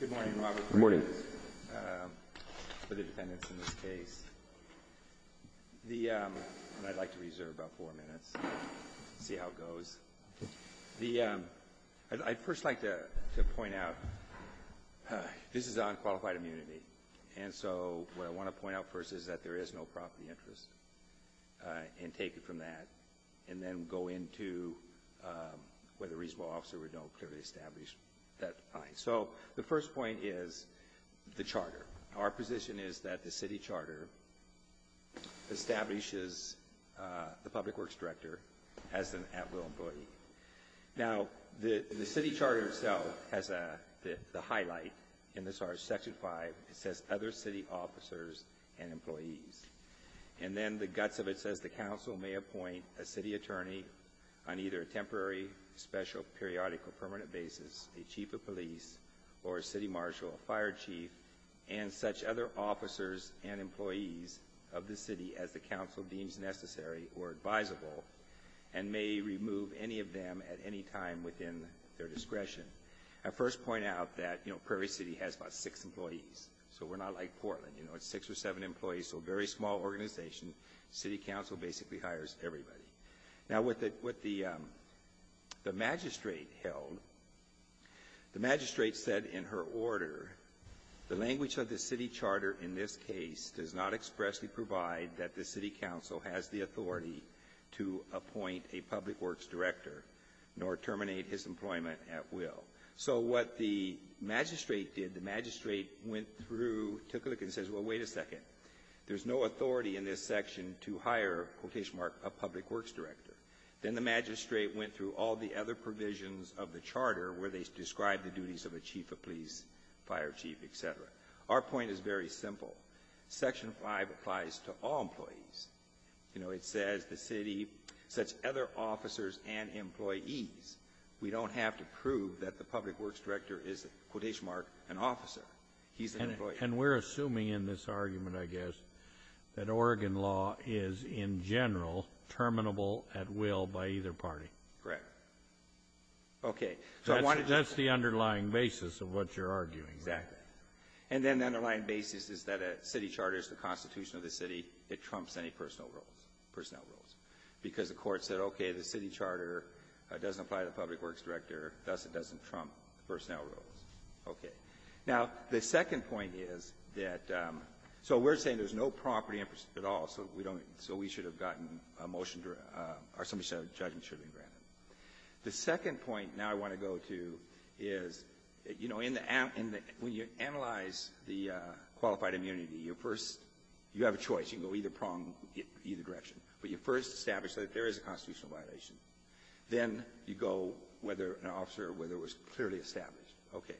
Good morning, Robert. Good morning. For the defendants in this case. I'd like to reserve about four minutes, see how it goes. I'd first like to point out, this is on qualified immunity, and so what I want to point out first is that there is no property interest, and take it from that, and then go into whether a reasonable officer would know to clearly establish that line. So the first point is the charter. Our position is that the city charter establishes the public works director as an at-will employee. Now, the city charter itself has the highlight in Section 5, it says, other city officers and employees. And then the guts of it says the council may appoint a city attorney on either a temporary, special, periodic, or permanent basis, a chief of police, or a city marshal, a fire chief, and such other officers and employees of the city as the council deems necessary or advisable, and may remove any of them at any time within their discretion. I first point out that, you know, Prairie City has about six employees, so we're not like Portland, you know, it's six or seven employees, so a very small organization, city council basically hires everybody. Now, what the magistrate held, the magistrate said in her order, the language of the city charter in this case does not expressly provide that the city council has the authority to appoint a public works director, nor terminate his employment at will. So what the magistrate did, the magistrate went through, took a look and says, well, wait a second, there's no authority in this section to hire, quotation mark, a public works director. Then the magistrate went through all the other provisions of the charter where they described the duties of a chief of police, fire chief, et cetera. Our point is very simple. Section 5 applies to all employees. You know, it says the city, such other officers and employees. We don't have to prove that the public works director is, quotation mark, an officer. He's an employee. And we're assuming in this argument, I guess, that Oregon law is in general terminable at will by either party. Correct. Okay. So that's the underlying basis of what you're arguing. Exactly. And then the underlying basis is that a city charter is the constitution of the city. It trumps any personal roles, personnel roles, because the court said, okay, the city charter doesn't apply to the public works director, thus it doesn't trump personnel roles. Okay. Now, the second point is that so we're saying there's no property interest at all, so we don't need it. So we should have gotten a motion to or somebody said a judgment should have been granted. The second point now I want to go to is, you know, when you analyze the qualified immunity, your first you have a choice. You can go either prong, either direction. But you first establish that there is a constitutional violation. Then you go whether an officer or whether it was clearly established. Okay.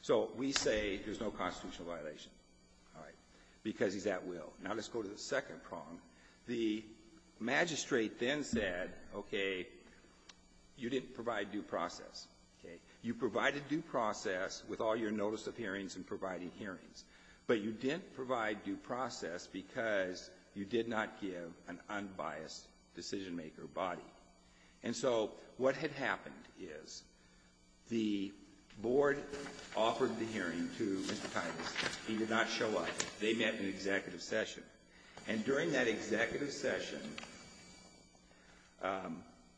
So we say there's no constitutional violation. All right. Because he's at will. Now let's go to the second prong. The magistrate then said, okay, you didn't provide due process. Okay. You provided due process with all your notice of hearings and providing hearings, but you didn't provide due process because you did not give an unbiased decision-maker body. And so what had happened is the Board offered the hearing to Mr. Titus. He did not show up. They met in an executive session. And during that executive session,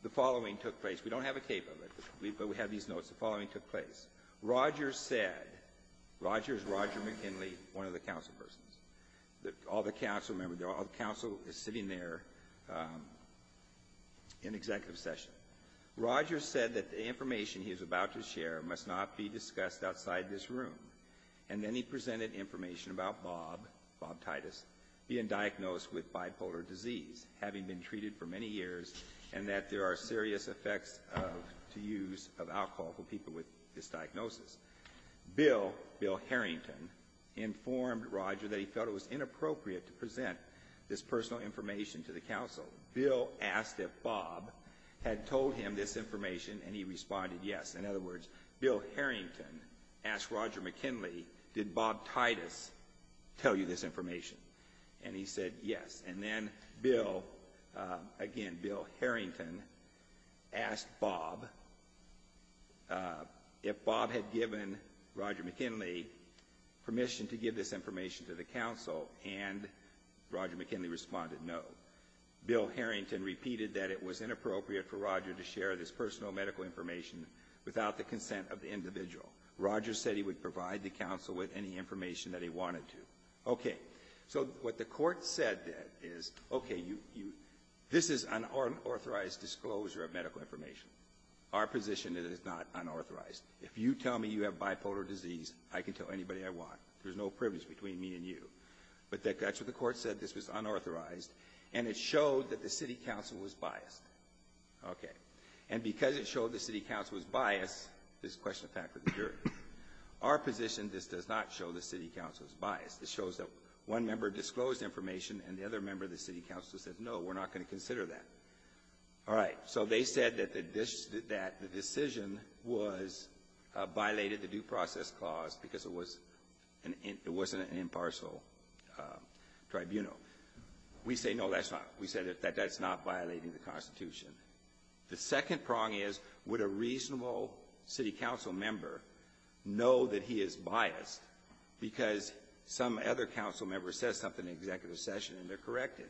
the following took place. We don't have a cape of it, but we have these notes. The following took place. Rogers said, Rogers, Roger McKinley, one of the councilpersons, all the councilmembers, all the council sitting there in executive session. Rogers said that the information he was about to share must not be discussed outside this room. And then he presented information about Bob, Bob Titus, being diagnosed with bipolar disease, having been treated for many years, and that there are serious effects of the use of alcohol for people with this diagnosis. Bill, Bill Harrington, informed Roger that he felt it was inappropriate to present this personal information to the council. Bill asked if Bob had told him this information, and he responded yes. In other words, Bill Harrington asked Roger McKinley, did Bob Titus tell you this information? And he said yes. And then Bill, again, Bill Harrington, asked Bob if Bob had given Roger McKinley permission to give this information to the council, and Roger McKinley responded no. Bill Harrington repeated that it was inappropriate for Roger to share this personal medical information without the consent of the individual. Rogers said he would provide the council with any information that he wanted to. Okay. So what the court said is, okay, this is unauthorized disclosure of medical information. Our position is it is not unauthorized. If you tell me you have bipolar disease, I can tell anybody I want. There's no privilege between me and you. But that's what the court said. This was unauthorized. And it showed that the city council was biased. Okay. And because it showed the city council was biased, there's a question of fact with the jury. Our position is this does not show the city council's bias. It shows that one member disclosed information and the other member of the city council said, no, we're not going to consider that. All right. So they said that the decision was violated the due process clause because it wasn't an impartial tribunal. We say, no, that's not. We said that that's not violating the Constitution. The second prong is, would a reasonable city council member know that he is biased because some other council member says something in executive session and they're corrected?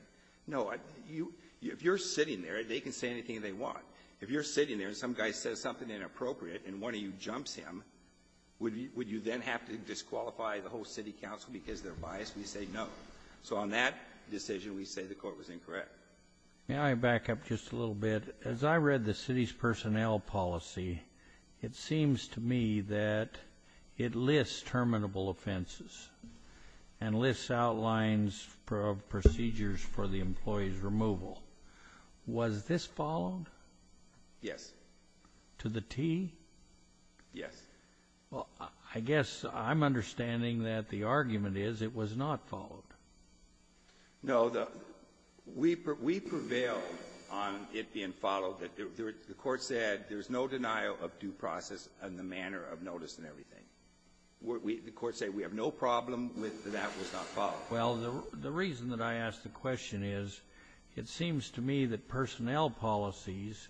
No. If you're sitting there, they can say anything they want. If you're sitting there and some guy says something inappropriate and one of you jumps him, would you then have to disqualify the whole city council because they're biased? We say, no. So on that decision, we say the court was incorrect. May I back up just a little bit? As I read the city's personnel policy, it seems to me that it lists terminable offenses and lists outlines of procedures for the employee's removal. Was this followed? Yes. To the T? Yes. Well, I guess I'm understanding that the argument is it was not followed. No. We prevailed on it being followed. The court said there's no denial of due process and the manner of notice and everything. The court said we have no problem with that that was not followed. Well, the reason that I ask the question is, it seems to me that personnel policies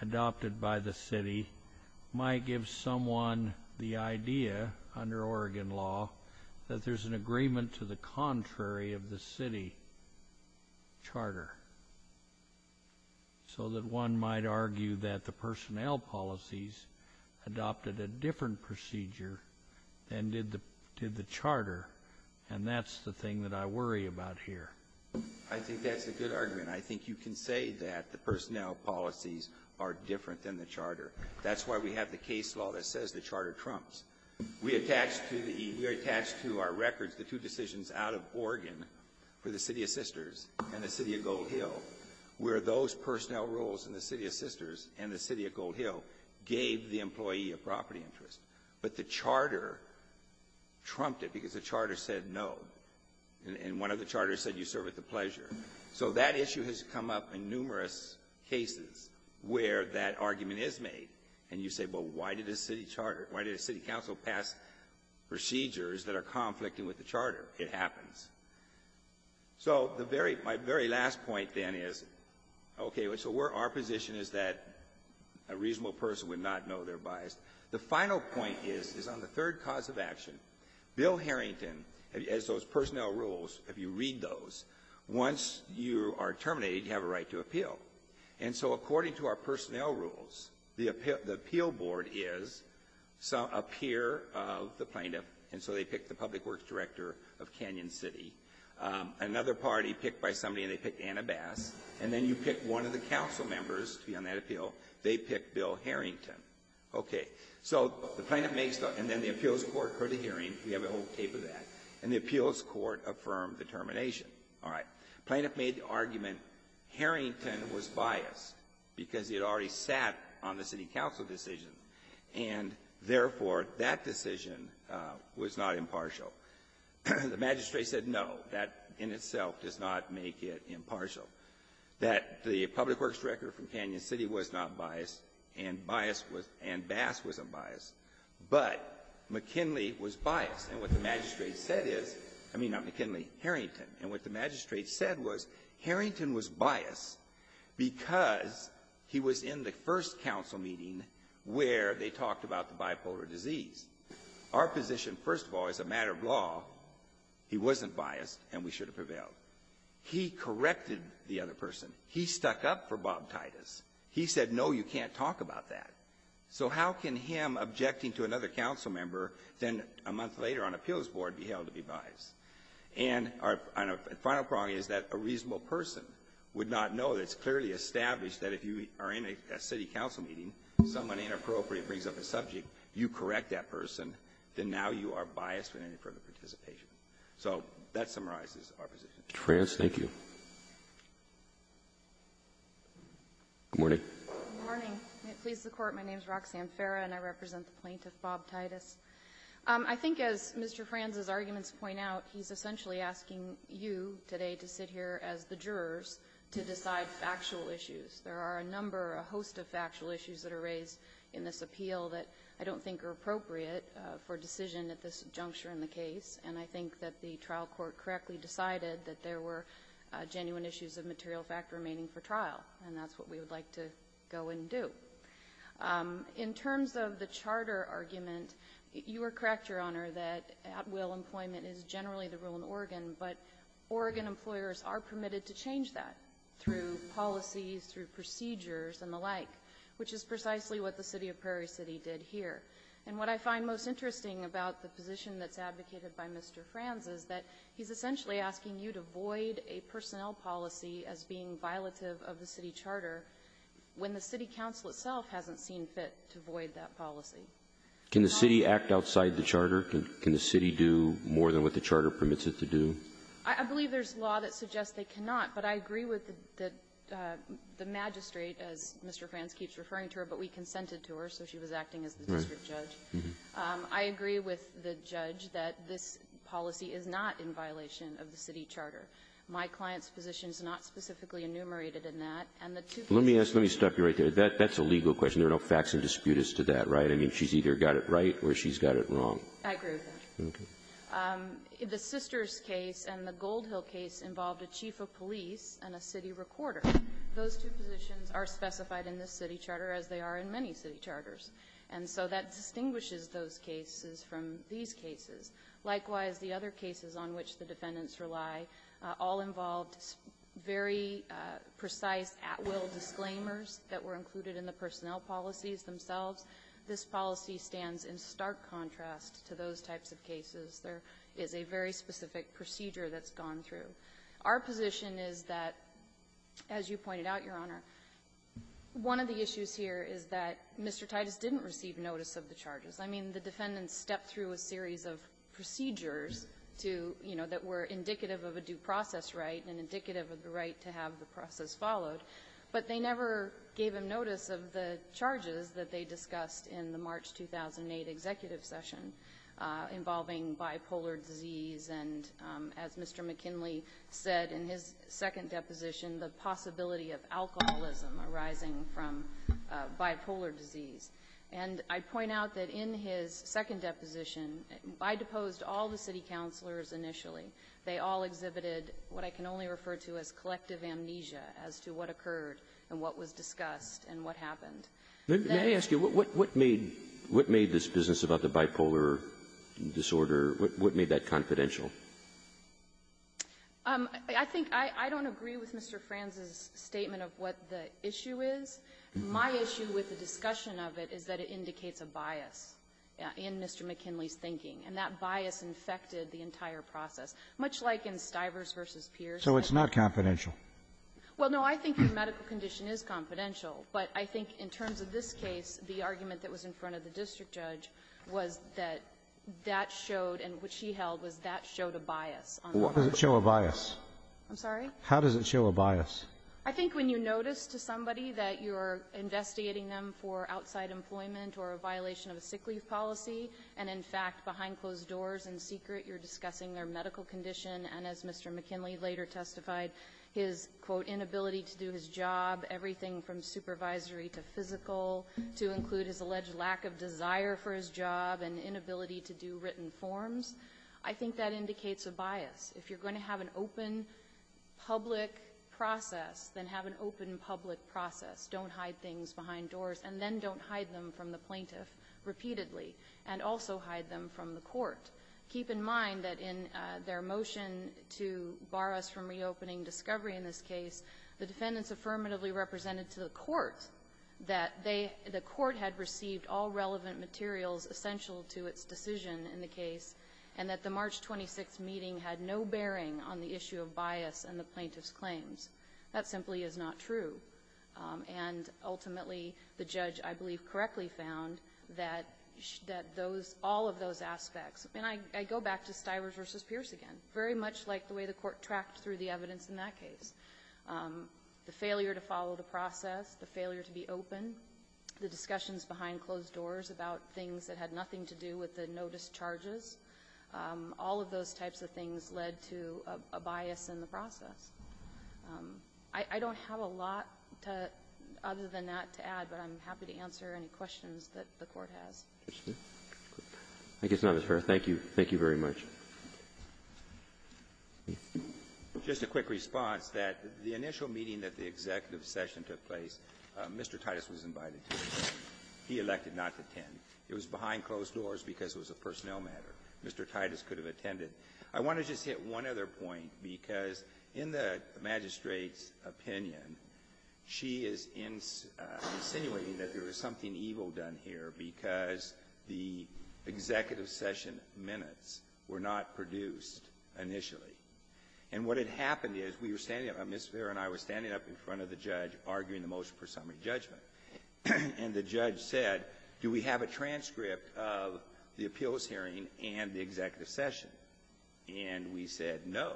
adopted by the city might give someone the idea under Oregon law that there's an agreement to the contrary of the city charter, so that one might argue that the personnel policies adopted a different procedure than did the charter, and that's the thing that I worry about here. I think that's a good argument. I think you can say that the personnel policies are different than the charter. That's why we have the case law that says the charter trumps. We attach to the E. We attach to our records the two decisions out of Oregon for the City of Sisters and the City of Gold Hill, where those personnel rules in the City of Sisters and the City of Gold Hill gave the employee a property interest. But the charter trumped it because the charter said no. And one of the charters said you serve at the pleasure. So that issue has come up in numerous cases where that argument is made. And you say, well, why did a city council pass procedures that are conflicting with the charter? It happens. So my very last point then is, okay, so our position is that a reasonable person would not know they're biased. The final point is on the third cause of action. Bill Harrington, as those personnel rules, if you read those, once you are terminated, you have a right to appeal. And so according to our personnel rules, the appeal board is a peer of the plaintiff. And so they pick the public works director of Canyon City. Another party picked by somebody, and they pick Anna Bass. And then you pick one of the council members to be on that appeal. They pick Bill Harrington. Okay. So the plaintiff makes the argument, and then the appeals court heard the hearing. We have a whole tape of that. And the appeals court affirmed the termination. All right. Plaintiff made the argument Harrington was biased because he had already sat on the city council decision, and therefore, that decision was not impartial. The magistrate said, no, that in itself does not make it impartial, that the public works director from Canyon City was not biased, and bias was — and Bass was unbiased. But McKinley was biased. And what the magistrate said is — I mean, not McKinley, Harrington. And what the magistrate said was Harrington was biased because he was in the first council meeting where they talked about the bipolar disease. Our position, first of all, as a matter of law, he wasn't biased, and we should have prevailed. He corrected the other person. He stuck up for Bob Titus. He said, no, you can't talk about that. So how can him objecting to another council member then a month later on appeals board be held to be biased? And our final point is that a reasonable person would not know that it's clearly established that if you are in a city council meeting, someone inappropriate brings up a subject, you correct that person, then now you are biased for any further participation. So that summarizes our position. Roberts. Thank you. Good morning. Good morning. Please support. My name is Roxanne Farah, and I represent the plaintiff, Bob Titus. I think as Mr. Franz's arguments point out, he's essentially asking you today to sit here as the jurors to decide factual issues. There are a number, a host of factual issues that are raised in this appeal that I don't think are appropriate for decision at this juncture in the case, and I think that the trial court correctly decided that there were genuine issues of material fact remaining for trial, and that's what we would like to go and do. In terms of the charter argument, you are correct, Your Honor, that at-will employment is generally the rule in Oregon, but Oregon employers are permitted to change that through policies, through procedures and the like, which is precisely what the city of Prairie City did here. And what I find most interesting about the position that's advocated by Mr. Franz is that he's essentially asking you to void a personnel policy as being violative of the city charter when the city council itself hasn't seen fit to void that policy. Can the city act outside the charter? Can the city do more than what the charter permits it to do? I believe there's law that suggests they cannot, but I agree with the magistrate, as Mr. Franz keeps referring to her, but we consented to her, so she was acting as the district judge. I agree with the judge that this policy is not in violation of the city charter. My client's position is not specifically enumerated in that. And the two others are in violation of the city charter. Roberts, let me stop you right there. That's a legal question. There are no facts and disputes to that, right? I mean, she's either got it right or she's got it wrong. I agree with that. Okay. The Sisters case and the Gold Hill case involved a chief of police and a city recorder. Those two positions are specified in the city charter, as they are in many city charters. And so that distinguishes those cases from these cases. Likewise, the other cases on which the defendants rely all involved very precise at-will disclaimers that were included in the personnel policies themselves. This policy stands in stark contrast to those types of cases. There is a very specific procedure that's gone through. Our position is that, as you pointed out, Your Honor, one of the issues here is that Mr. Titus didn't receive notice of the charges. I mean, the defendants stepped through a series of procedures to, you know, that were indicative of a due process right and indicative of the right to have the process followed, but they never gave him notice of the charges that they discussed in the March 2008 executive session involving bipolar disease and, as Mr. McKinley said in his second deposition, the possibility of alcoholism arising from bipolar disease. And I'd point out that in his second deposition, I deposed all the city counselors initially. They all exhibited what I can only refer to as collective amnesia as to what occurred and what was discussed and what happened. Roberts. May I ask you, what made this business about the bipolar disorder, what made that confidential? I think I don't agree with Mr. Franz's statement of what the issue is. My issue with the discussion of it is that it indicates a bias in Mr. McKinley's thinking, and that bias infected the entire process, much like in Stivers v. Pierce. So it's not confidential? Well, no. I think your medical condition is confidential, but I think in terms of this case, the argument that was in front of the district judge was that that showed, and what she held, was that showed a bias. What does it show a bias? I'm sorry? How does it show a bias? I think when you notice to somebody that you're investigating them for outside employment or a violation of a sick leave policy, and in fact, behind closed doors in secret, you're discussing their medical condition, and as Mr. McKinley later testified, his, quote, inability to do his job, everything from supervisory to physical, to include his alleged lack of desire for his job, and inability If you're going to have an open public process, then have an open public process. Don't hide things behind doors, and then don't hide them from the plaintiff repeatedly, and also hide them from the court. Keep in mind that in their motion to bar us from reopening discovery in this case, the defendants affirmatively represented to the court that they, the court had received all relevant materials essential to its decision in the case, and that the March 26th meeting had no bearing on the issue of bias in the plaintiff's claims. That simply is not true. And ultimately, the judge, I believe, correctly found that those, all of those aspects, and I go back to Stivers v. Pierce again, very much like the way the court tracked through the evidence in that case. The failure to follow the process, the failure to be open, the discussions behind closed doors about things that had nothing to do with the notice charges, all of those types of things led to a bias in the process. I don't have a lot to, other than that, to add, but I'm happy to answer any questions that the court has. Roberts. Roberts. Thank you. Thank you very much. Just a quick response that the initial meeting that the executive session took place, Mr. Titus was invited to it. He elected not to attend. It was behind closed doors because it was a personnel matter. Mr. Titus could have attended. I want to just hit one other point, because in the magistrate's opinion, she is insinuating that there was something evil done here because the executive session minutes were not produced initially. And what had happened is we were standing up, Ms. Vare and I were standing up in front of the judge arguing the motion for summary judgment, and the judge said, do we have a transcript of the appeals hearing and the executive session? And we said no.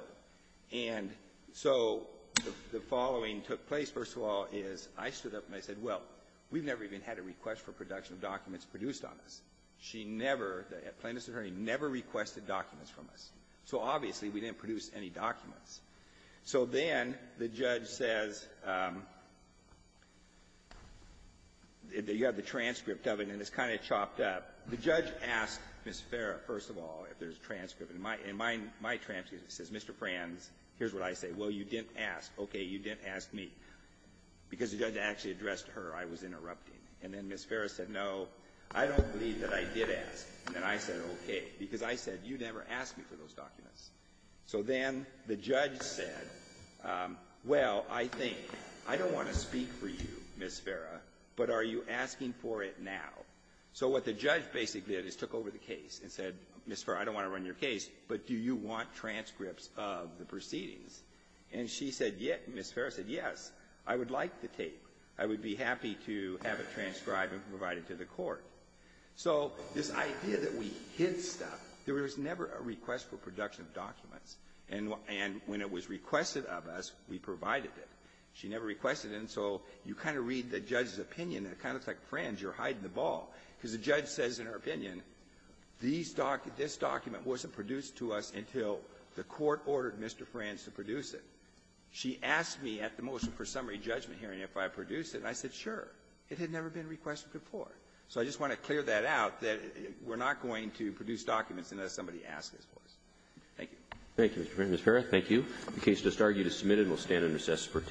And so the following took place, first of all, is I stood up and I said, well, we've never even had a request for production of documents produced on us. She never, at plaintiff's attorney, never requested documents from us. So obviously, we didn't produce any documents. So then the judge says that you have the transcript of it, and it's kind of chopped up. The judge asked Ms. Vare, first of all, if there's a transcript. In my transcript, it says, Mr. Franz, here's what I say. Well, you didn't ask. Okay. You didn't ask me. Because the judge actually addressed her, I was interrupting. And then Ms. Vare said, no, I don't believe that I did ask. And then I said, okay. Because I said, you never asked me for those documents. So then the judge said, well, I think, I don't want to speak for you, Ms. Vare, but are you asking for it now? So what the judge basically did is took over the case and said, Ms. Vare, I don't want to run your case, but do you want transcripts of the proceedings? And she said, yes. And Ms. Vare said, yes, I would like the tape. I would be happy to have it transcribed and provided to the court. So this idea that we hid stuff, there was never a request for production of documents. And when it was requested of us, we provided it. She never requested it. And so you kind of read the judge's opinion, and it kind of looks like, Franz, you're hiding the ball, because the judge says in her opinion, this document wasn't produced to us until the court ordered Mr. Franz to produce it. She asked me at the motion for summary judgment hearing if I produced it, and I said, sure. It had never been requested before. So I just want to clear that out, that we're not going to produce documents unless somebody asks us for it. Thank you. Roberts. Thank you, Mr. McFarland. Ms. Vare, thank you.